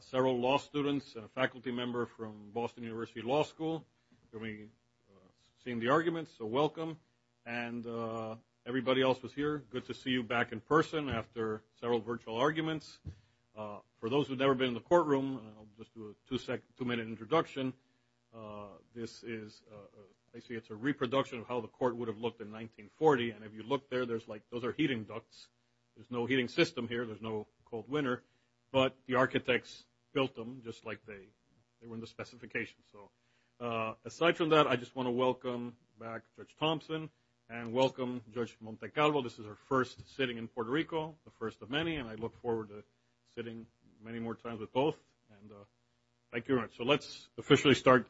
several law students and a faculty member from Boston University Law School. You'll be seeing the arguments, so welcome. And everybody else who's here, good to see you back in person after several virtual arguments. For those who've never been in the courtroom, I'll just do a two-minute introduction. This is, I see it's a reproduction of how the court would have looked in 1940. And if you look there, there's like, those are heating ducts. There's no heating system here. There's no cold winter. But the architects built them just like they were in the specifications. So, aside from that, I just want to welcome back Judge Thompson and welcome Judge Montecalvo. This is her first sitting in Puerto Rico, the first of many, and I look forward to sitting many more times with both. And thank you very much. So let's officially start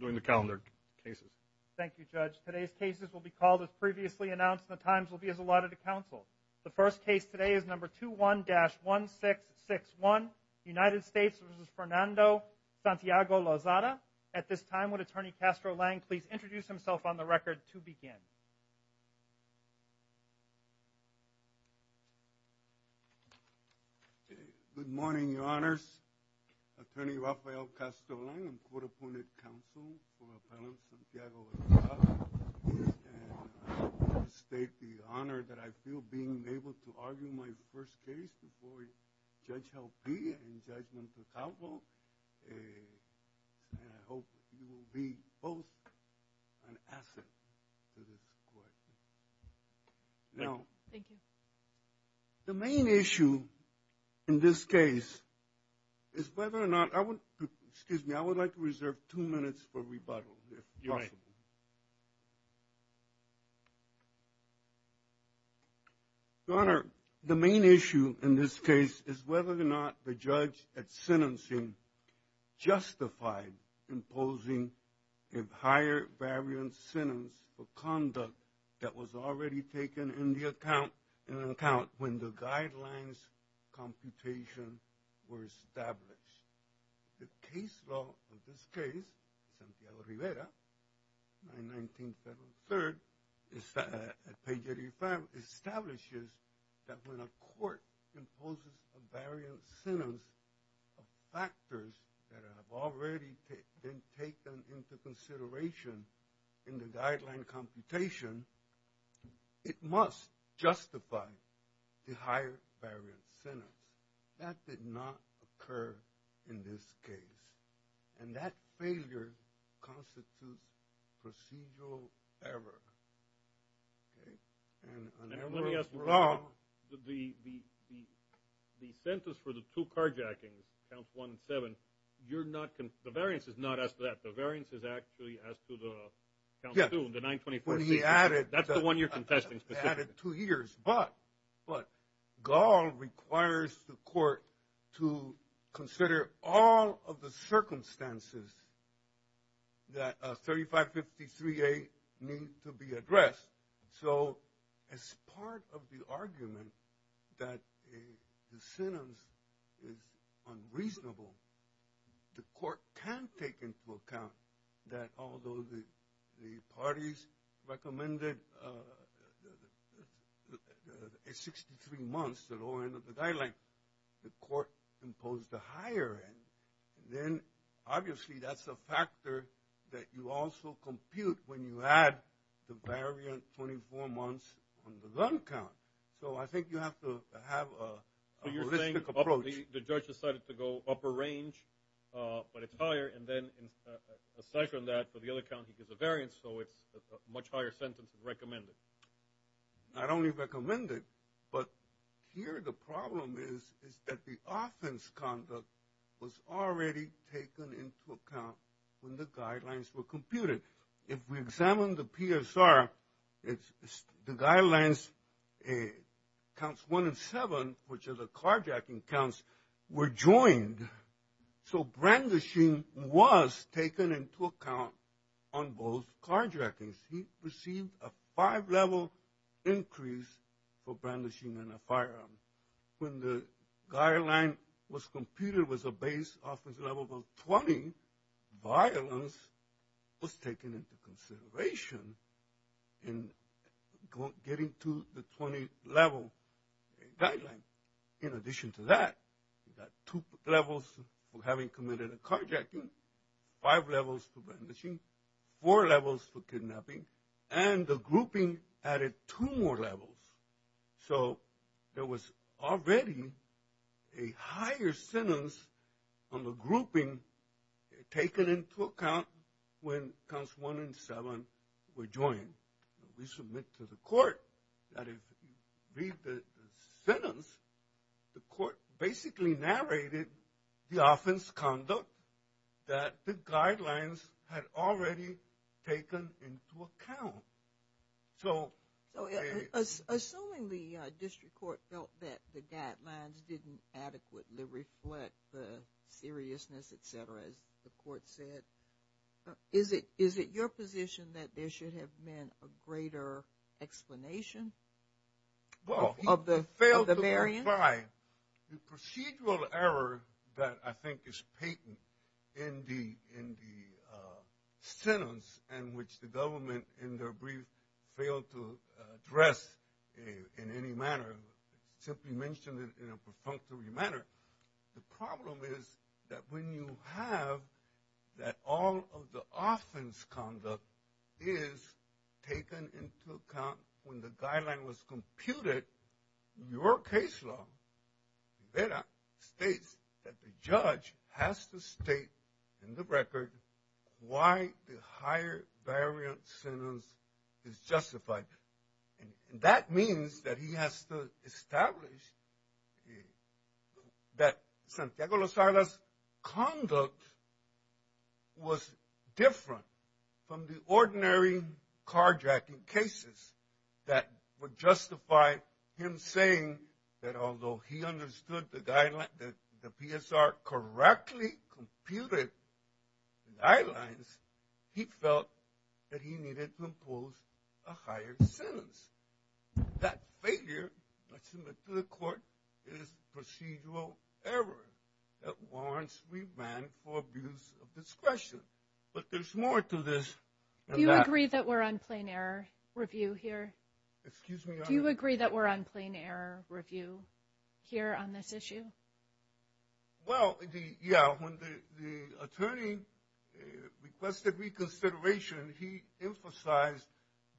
doing the calendar cases. Thank you, Judge. Today's cases will be called as previously announced, and the times will be as allotted to counsel. The first case today is number 21-1661, United States v. Fernando Santiago Lozada. At this time, would Attorney Castro Lang please introduce himself on the record to begin? Good morning, your honors. Attorney Rafael Castro Lang, I'm court-appointed counsel for Appellant Santiago Lozada. Yes, and I would like to state the honor that I feel being able to argue my first case before Judge Helpe and Judge Montecalvo. And I hope you will be both an asset to this court. Now- Thank you. The main issue in this case is whether or not, I would, excuse me, I would like to reserve two minutes for rebuttal, if possible. Thank you. Your honor, the main issue in this case is whether or not the judge at sentencing justified imposing a higher variance sentence for conduct that was already taken into account when the guidelines computation were established. The case law of this case, Santiago Rivera, 919 Federal 3rd at page 85, establishes that when a court imposes a variance sentence of factors that have already been taken into consideration in the guideline computation, it must justify the higher variance sentence. That did not occur in this case. And that failure constitutes procedural error, okay? And- And let me ask you, the sentence for the two carjackings, counts one and seven, you're not, the variance is not asked for that. The variance is actually asked for the, counts two and the 924- Yeah, when he added- That's the one you're confessing specifically. I added two years. But, but, Gall requires the court to consider all of the circumstances that 3553A need to be addressed. So, as part of the argument that the sentence is unreasonable, the court can take into account that although the parties recommended a 63 months at all end of the guideline, the court imposed a higher end. Then, obviously that's a factor that you also compute when you add the variant 24 months on the gun count. So, I think you have to have a holistic approach. The judge decided to go upper range, but it's higher. And then, aside from that, for the other count, he gives a variance. So, it's a much higher sentence recommended. Not only recommended, but here the problem is, is that the offense conduct was already taken into account when the guidelines were computed. If we examine the PSR, the guidelines counts one and seven, which are the carjacking counts, were joined. So, brandishing was taken into account on both carjackings. He received a five level increase for brandishing in a firearm. When the guideline was computed was a base offense level of 20, violence was taken into consideration in getting to the 20 level guideline. In addition to that, that two levels for having committed a carjacking, five levels for brandishing, four levels for kidnapping, and the grouping added two more levels. So, there was already a higher sentence on the grouping taken into account when counts one and seven were joined. We submit to the court that if you read the sentence, the court basically narrated the offense conduct that the guidelines had already taken into account. So- So, assuming the district court felt that the guidelines didn't adequately reflect the seriousness, et cetera, as the court said, is it your position that there should have been a greater explanation of the variance? Well, he failed to provide the procedural error that I think is patent in the sentence in which the government in their brief failed to address in any manner, simply mentioned it in a perfunctory manner. The problem is that when you have that all of the offense conduct is taken into account when the guideline was computed, your case law states that the judge has to state in the record why the higher variance sentence is justified. And that means that he has to establish that Santiago Lozada's conduct was different from the ordinary carjacking cases that would justify him saying that although he understood that the PSR correctly computed the guidelines, he felt that he needed to impose a higher sentence. That failure, I submit to the court, is procedural error that warrants remand for abuse of discretion. But there's more to this than that. Do you agree that we're on plain error review here? Excuse me? Do you agree that we're on plain error review here on this issue? Well, yeah, when the attorney requested reconsideration, he emphasized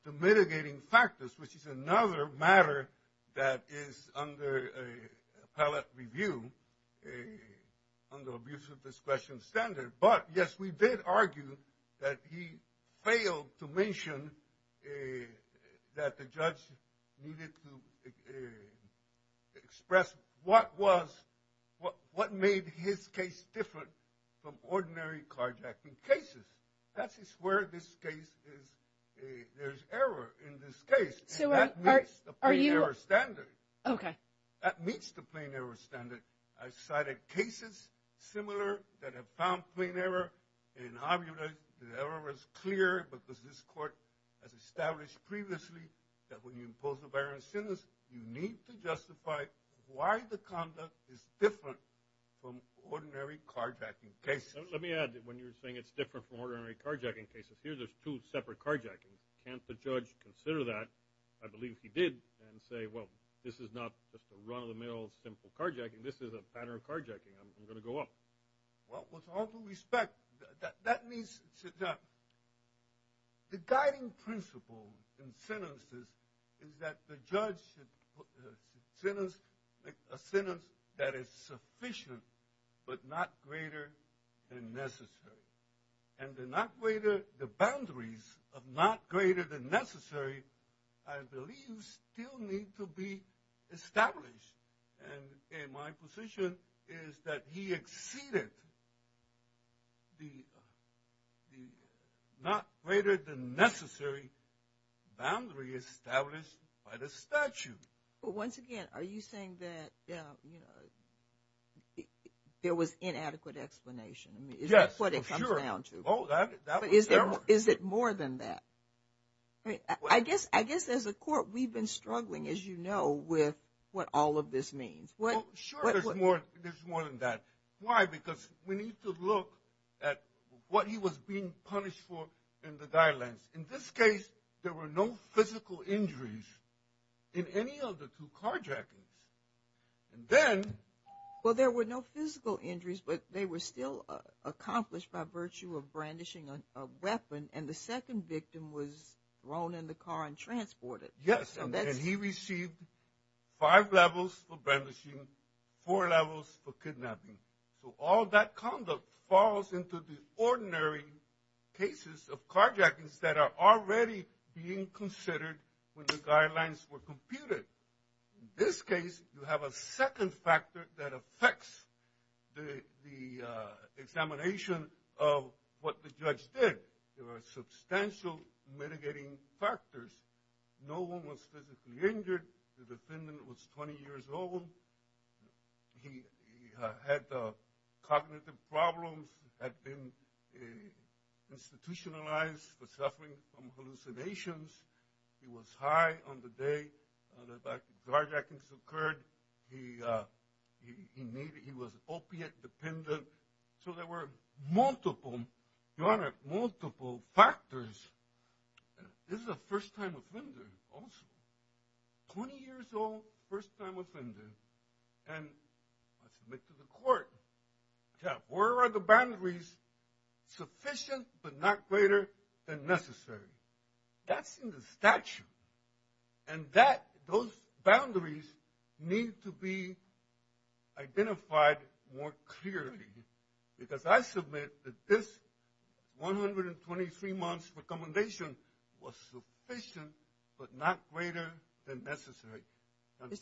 the mitigating factors, which is another matter that is under appellate review under abuse of discretion standard. And that the judge needed to express what made his case different from ordinary carjacking cases. That is where this case is, there's error in this case. So that meets the plain error standard. Okay. That meets the plain error standard. I've cited cases similar that have found plain error in how the error is clear because this court has established previously that when you impose a higher sentence, you need to justify why the conduct is different from ordinary carjacking cases. Let me add that when you're saying it's different from ordinary carjacking cases, here there's two separate carjackings. Can't the judge consider that? I believe he did and say, well, this is not just a run-of-the-mill simple carjacking. This is a pattern of carjacking. I'm gonna go up. Well, with all due respect, that means the guiding principle in sentences is that the judge should sentence a sentence that is sufficient, but not greater than necessary. And the boundaries of not greater than necessary, I believe still need to be established. And in my position is that he exceeded the not greater than necessary boundary established by the statute. But once again, are you saying that there was inadequate explanation? I mean, is that what it comes down to? Oh, that was error. Is it more than that? I guess as a court, we've been struggling, as you know, with what all of this means. Sure, there's more than that. Why? Because we need to look at what he was being punished for in the guidelines. In this case, there were no physical injuries in any of the two carjackings. And then- Well, there were no physical injuries, but they were still accomplished by virtue of brandishing a weapon. And the second victim was thrown in the car and transported. Yes, and he received five levels for brandishing, four levels for kidnapping. So all that conduct falls into the ordinary cases of carjackings that are already being considered when the guidelines were computed. In this case, you have a second factor that affects the examination of what the judge did. There are substantial mitigating factors, no one was physically injured. The defendant was 20 years old. He had cognitive problems, had been institutionalized for suffering from hallucinations. He was high on the day that the carjackings occurred. He was opiate dependent. So there were multiple, Your Honor, multiple factors. And this is a first-time offender also, 20 years old, first-time offender. And I submit to the court, yeah, where are the boundaries, sufficient but not greater than necessary? That's in the statute. And those boundaries need to be identified more clearly because I submit that this 123 months recommendation was sufficient but not greater than necessary.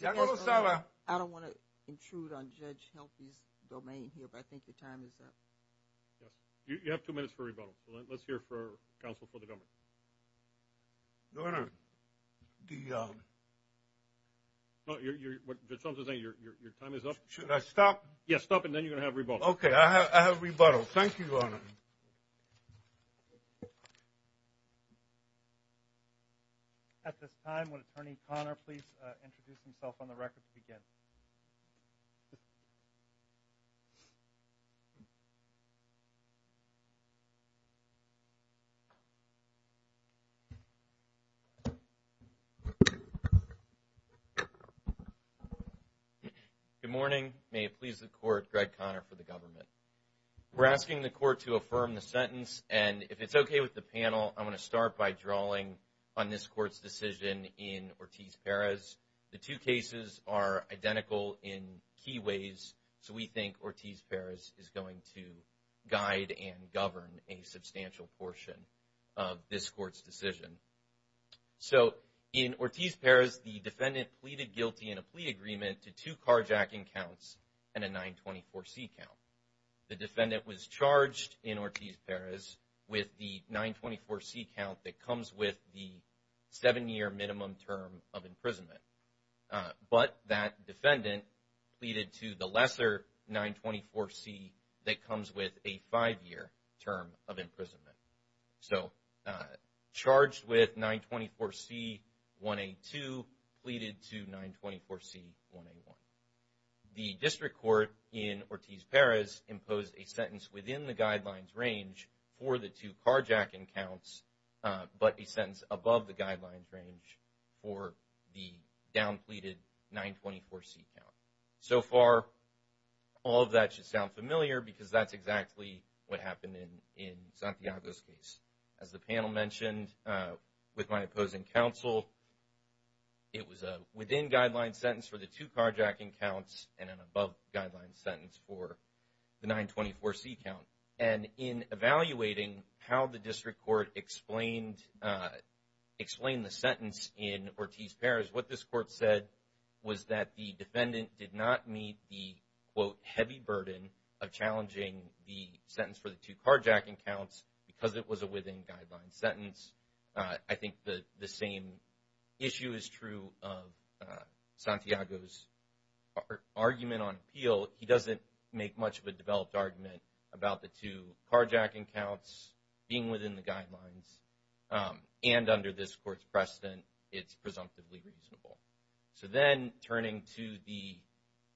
Your Honor. I don't want to intrude on Judge Helfie's domain here, but I think your time is up. Yes, you have two minutes for rebuttal. Let's hear for counsel for the government. Your Honor, the... No, your time is up. Should I stop? Yes, stop, and then you're gonna have rebuttal. Okay, I have rebuttal. Thank you, Your Honor. At this time, would Attorney Conner please introduce himself on the record to begin? Good morning. May it please the court, Greg Conner for the government. We're asking the court to affirm the sentence, and if it's okay with the panel, I'm gonna start by drawing on this court's decision in Ortiz-Perez. The two cases are identical in key ways. So we think Ortiz-Perez is going to guide and govern a substantial portion of this court's decision. So in Ortiz-Perez, the defendant pleaded guilty in a plea agreement to two carjacking counts and a 924C count. The defendant was charged in Ortiz-Perez with the 924C count that comes with the seven-year minimum term of imprisonment. But that defendant pleaded to the lesser 924C that comes with a five-year term of imprisonment. So charged with 924C-1A2 pleaded to 924C-1A1. The district court in Ortiz-Perez imposed a sentence within the guidelines range for the two carjacking counts, but a sentence above the guidelines range for the down pleaded 924C count. So far, all of that should sound familiar because that's exactly what happened in Santiago's case. As the panel mentioned, with my opposing counsel, it was a within guidelines sentence for the two carjacking counts and an above guidelines sentence for the 924C count. And in evaluating how the district court explained the sentence in Ortiz-Perez, what this court said was that the defendant did not meet the, quote, heavy burden of challenging the sentence for the two carjacking counts because it was a within guidelines sentence. I think the same issue is true of Santiago's part. Argument on appeal, he doesn't make much of a developed argument about the two carjacking counts being within the guidelines. And under this court's precedent, it's presumptively reasonable. So then turning to the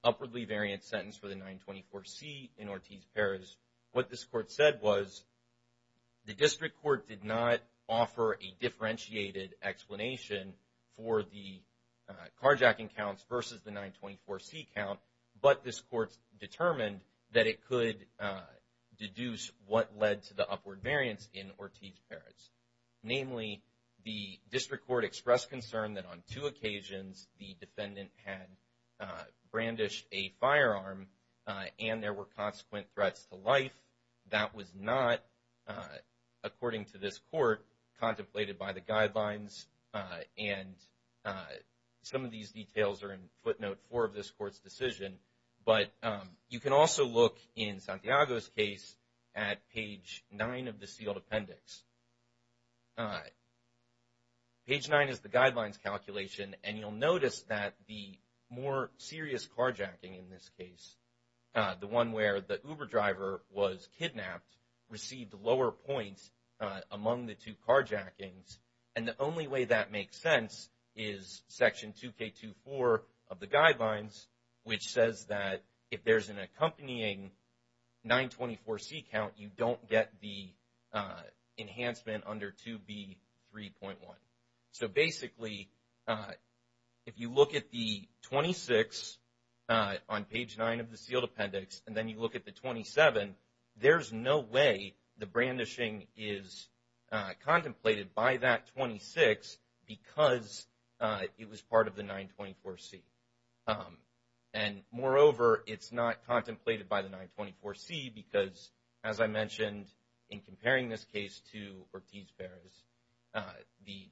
upwardly variant sentence for the 924C in Ortiz-Perez, what this court said was the district court did not offer a differentiated explanation for the carjacking counts versus the 924C count, but this court determined that it could deduce what led to the upward variance in Ortiz-Perez. Namely, the district court expressed concern that on two occasions, the defendant had brandished a firearm and there were consequent threats to life. That was not, according to this court, contemplated by the guidelines. And some of these details are in footnote four of this court's decision, but you can also look in Santiago's case at page nine of the sealed appendix. Page nine is the guidelines calculation, and you'll notice that the more serious carjacking in this case, the one where the Uber driver was kidnapped, received lower points among the two carjackings. And the only way that makes sense is section 2K24 of the guidelines, which says that if there's an accompanying 924C count, you don't get the enhancement under 2B3.1. So basically, if you look at the 26 on page nine of the sealed appendix, and then you look at the 27, there's no way the brandishing is contemplated by that 26 because it was part of the 924C. And moreover, it's not contemplated by the 924C because, as I mentioned, in comparing this case to Ortiz-Ferrez, the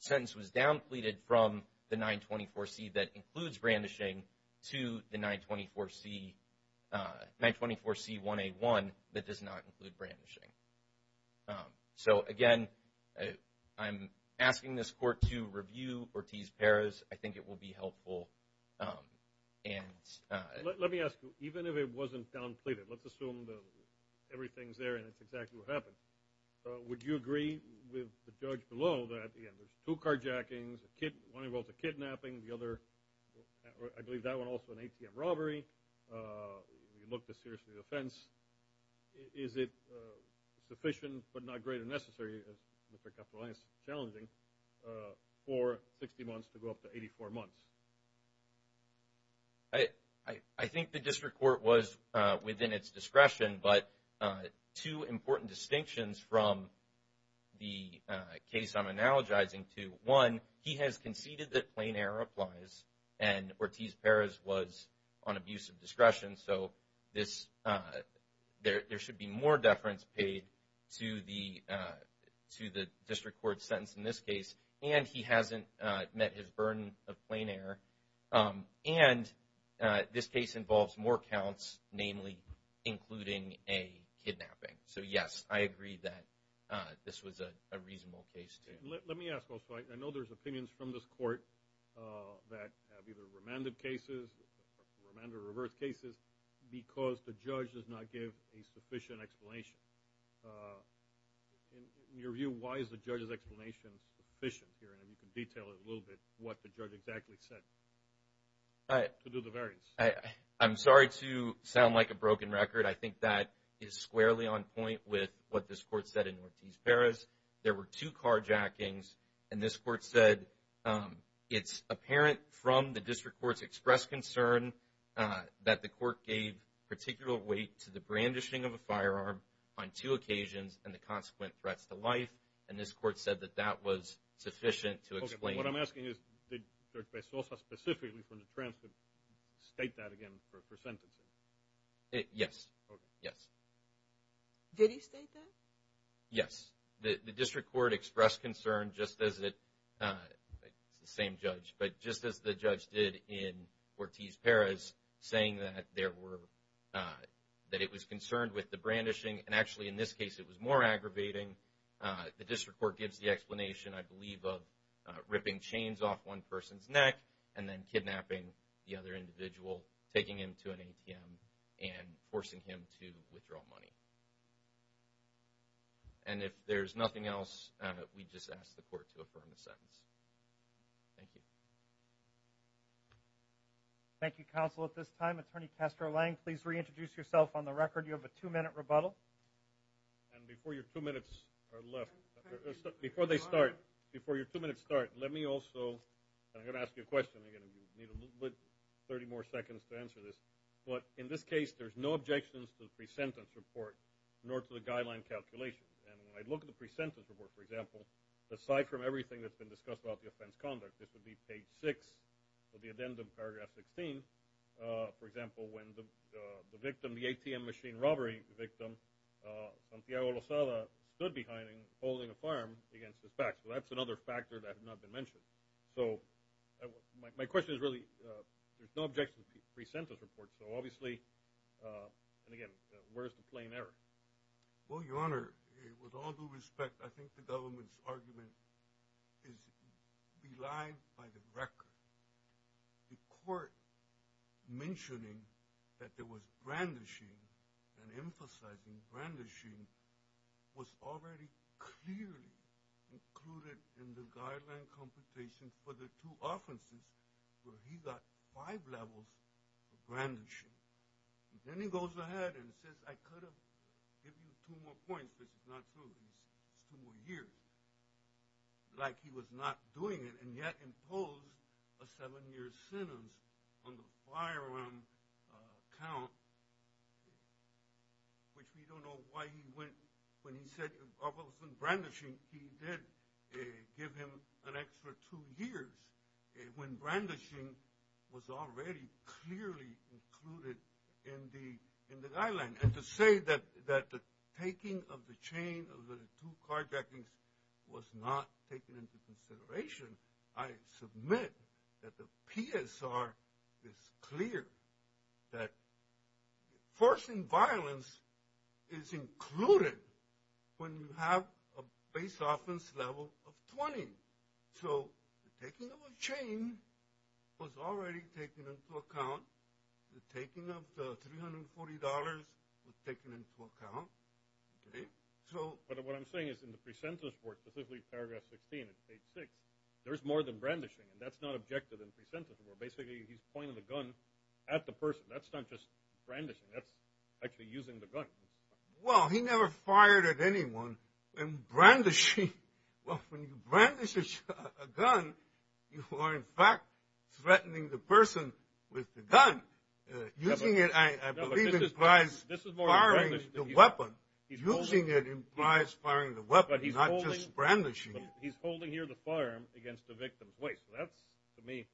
sentence was downpleaded from the 924C that includes brandishing to the 924C1A1 that does not include brandishing. So again, I'm asking this court to review Ortiz-Ferrez. I think it will be helpful. Let me ask you, even if it wasn't downplayed, let's assume that everything's there and it's exactly what happened. Would you agree with the judge below that there's two carjackings, one involves a kidnapping, the other, I believe that one also an ATM robbery, you look to seriously the offense. Is it sufficient, but not great and necessary, as Mr. Capolani is challenging, for 60 months to go up to 84 months? I think the district court was within its discretion, but two important distinctions from the case I'm analogizing to, one, he has conceded that plain error applies and Ortiz-Ferrez was on abusive discretion, so there should be more deference paid to the district court's sentence in this case, and he hasn't met his burden of plain error, and this case involves more counts, namely, including a kidnapping. So yes, I agree that this was a reasonable case. Let me ask also, I know there's opinions from this court that have either remanded cases, remanded or reversed cases, because the judge does not give a sufficient explanation. In your view, why is the judge's explanation sufficient here and if you could detail it a little bit, what the judge exactly said to do the variance? I'm sorry to sound like a broken record. I think that is squarely on point with what this court said in Ortiz-Ferrez. There were two carjackings, and this court said, it's apparent from the district court's expressed concern that the court gave particular weight to the brandishing of a firearm on two occasions and the consequent threats to life, and this court said that that was sufficient to explain. What I'm asking is, did Judge Bezosa specifically from the transcript state that again for sentencing? Yes, yes. Did he state that? Yes, the district court expressed concern just as it, it's the same judge, but just as the judge did in Ortiz-Ferrez, saying that it was concerned with the brandishing, and actually in this case, it was more aggravating. The district court gives the explanation, I believe, of ripping chains off one person's neck and then kidnapping the other individual, taking him to an ATM and forcing him to withdraw money. And if there's nothing else, we just ask the court to affirm the sentence. Thank you. Thank you, counsel. At this time, Attorney Kester Lang, please reintroduce yourself on the record. You have a two-minute rebuttal. And before your two minutes are left, before they start, before your two minutes start, let me also, and I'm gonna ask you a question again. You need a little bit, 30 more seconds to answer this, but in this case, there's no objections to the pre-sentence report, nor to the guideline calculations. And when I look at the pre-sentence report, for example, aside from everything that's been discussed about the offense conduct, this would be page six of the addendum, paragraph 16, for example, when the victim, the ATM machine robbery victim, Santiago Lozada, stood behind him, holding a firearm against his back. So that's another factor that has not been mentioned. So my question is really, there's no objection to the pre-sentence report. So obviously, and again, where's the plain error? Well, Your Honor, with all due respect, I think the government's argument is belied by the record. The court mentioning that there was brandishing and emphasizing brandishing was already clearly included in the guideline computation for the two offenses, where he got five levels of brandishing. Then he goes ahead and says, I could have given you two more points, but it's not true, it's two more years, like he was not doing it, and yet imposed a seven-year sentence on the firearm count, which we don't know why he went, when he said it wasn't brandishing, he did give him an extra two years when brandishing was already clearly included in the guideline. And to say that the taking of the chain of the two carjackings was not taken into consideration, I submit that the PSR is clear that forcing violence is included when you have a base offense level of 20. So the taking of a chain was already taken into account, the taking of the $340 was taken into account. So- But what I'm saying is in the pre-sentence work, specifically paragraph 16, page six, there's more than brandishing, and that's not objective in pre-sentence work. Basically, he's pointing the gun at the person. That's not just brandishing, that's actually using the gun. Well, he never fired at anyone, and brandishing, well, when you brandish a gun, you are, in fact, threatening the person with the gun. Using it, I believe, implies firing the weapon. Using it implies firing the weapon, not just brandishing it. He's holding here the firearm against the victim's waist. That's, to me,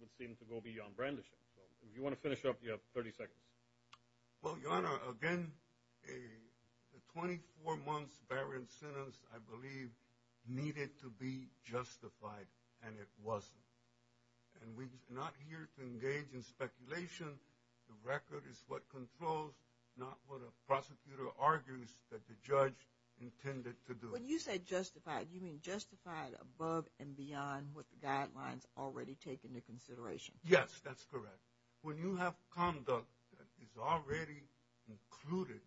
would seem to go beyond brandishing. If you want to finish up, you have 30 seconds. Well, Your Honor, again, the 24-months barren sentence, I believe, needed to be justified, and it wasn't. And we're not here to engage in speculation. The record is what controls, not what a prosecutor argues that the judge intended to do. When you say justified, you mean justified above and beyond what the guidelines already take into consideration? Yes, that's correct. When you have conduct that is already included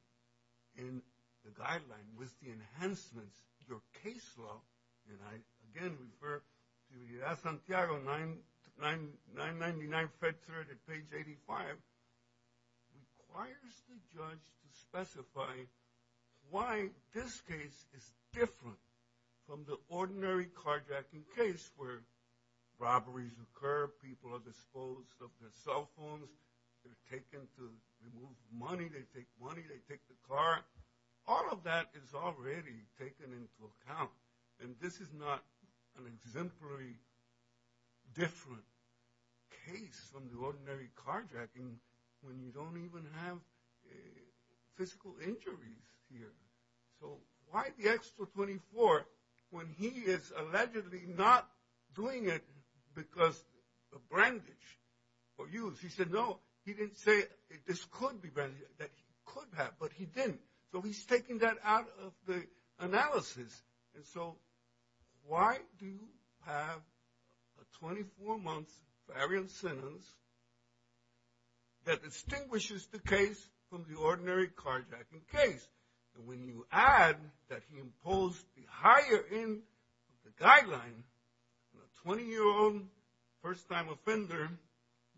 in the guideline with the enhancements, your case law, and I, again, refer to the Santiago 999 Fed Threat at page 85, requires the judge to specify why this case is different from the ordinary carjacking case, where robberies occur, people are disposed of their cell phones, they're taken to remove money, they take money, they take the car. All of that is already taken into account, and this is not an exemplary different case from the ordinary carjacking when you don't even have physical injuries here. So why the extra 24 when he is allegedly not doing it because of brandage for use? He said, no, he didn't say this could be brandage, that he could have, but he didn't. So he's taking that out of the analysis. And so why do you have a 24-month variance sentence that distinguishes the case from the ordinary carjacking case? And when you add that he imposed the higher end of the guideline, a 20-year-old first-time offender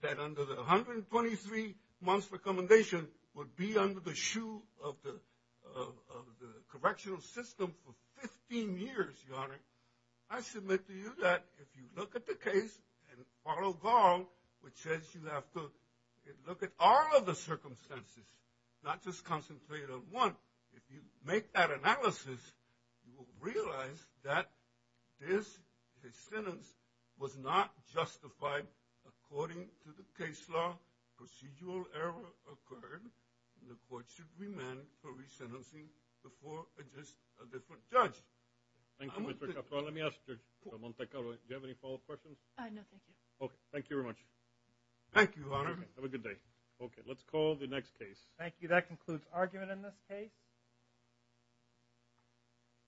that under the 123-months recommendation would be under the shoe of the correctional system for 15 years, Your Honor, I submit to you that if you look at the case and follow Garl, which says you have to look at all of the circumstances, not just concentrate on one, if you make that analysis, you will realize that this sentence was not justified according to the case law. Procedural error occurred, and the court should remand for resentencing before a different judge. Thank you, Mr. Castro. Let me ask Judge Montecarlo, do you have any follow-up questions? No, thank you. Okay, thank you very much. Thank you, Your Honor. Have a good day. Okay, let's call the next case. Thank you, that concludes argument in this case. Thank you.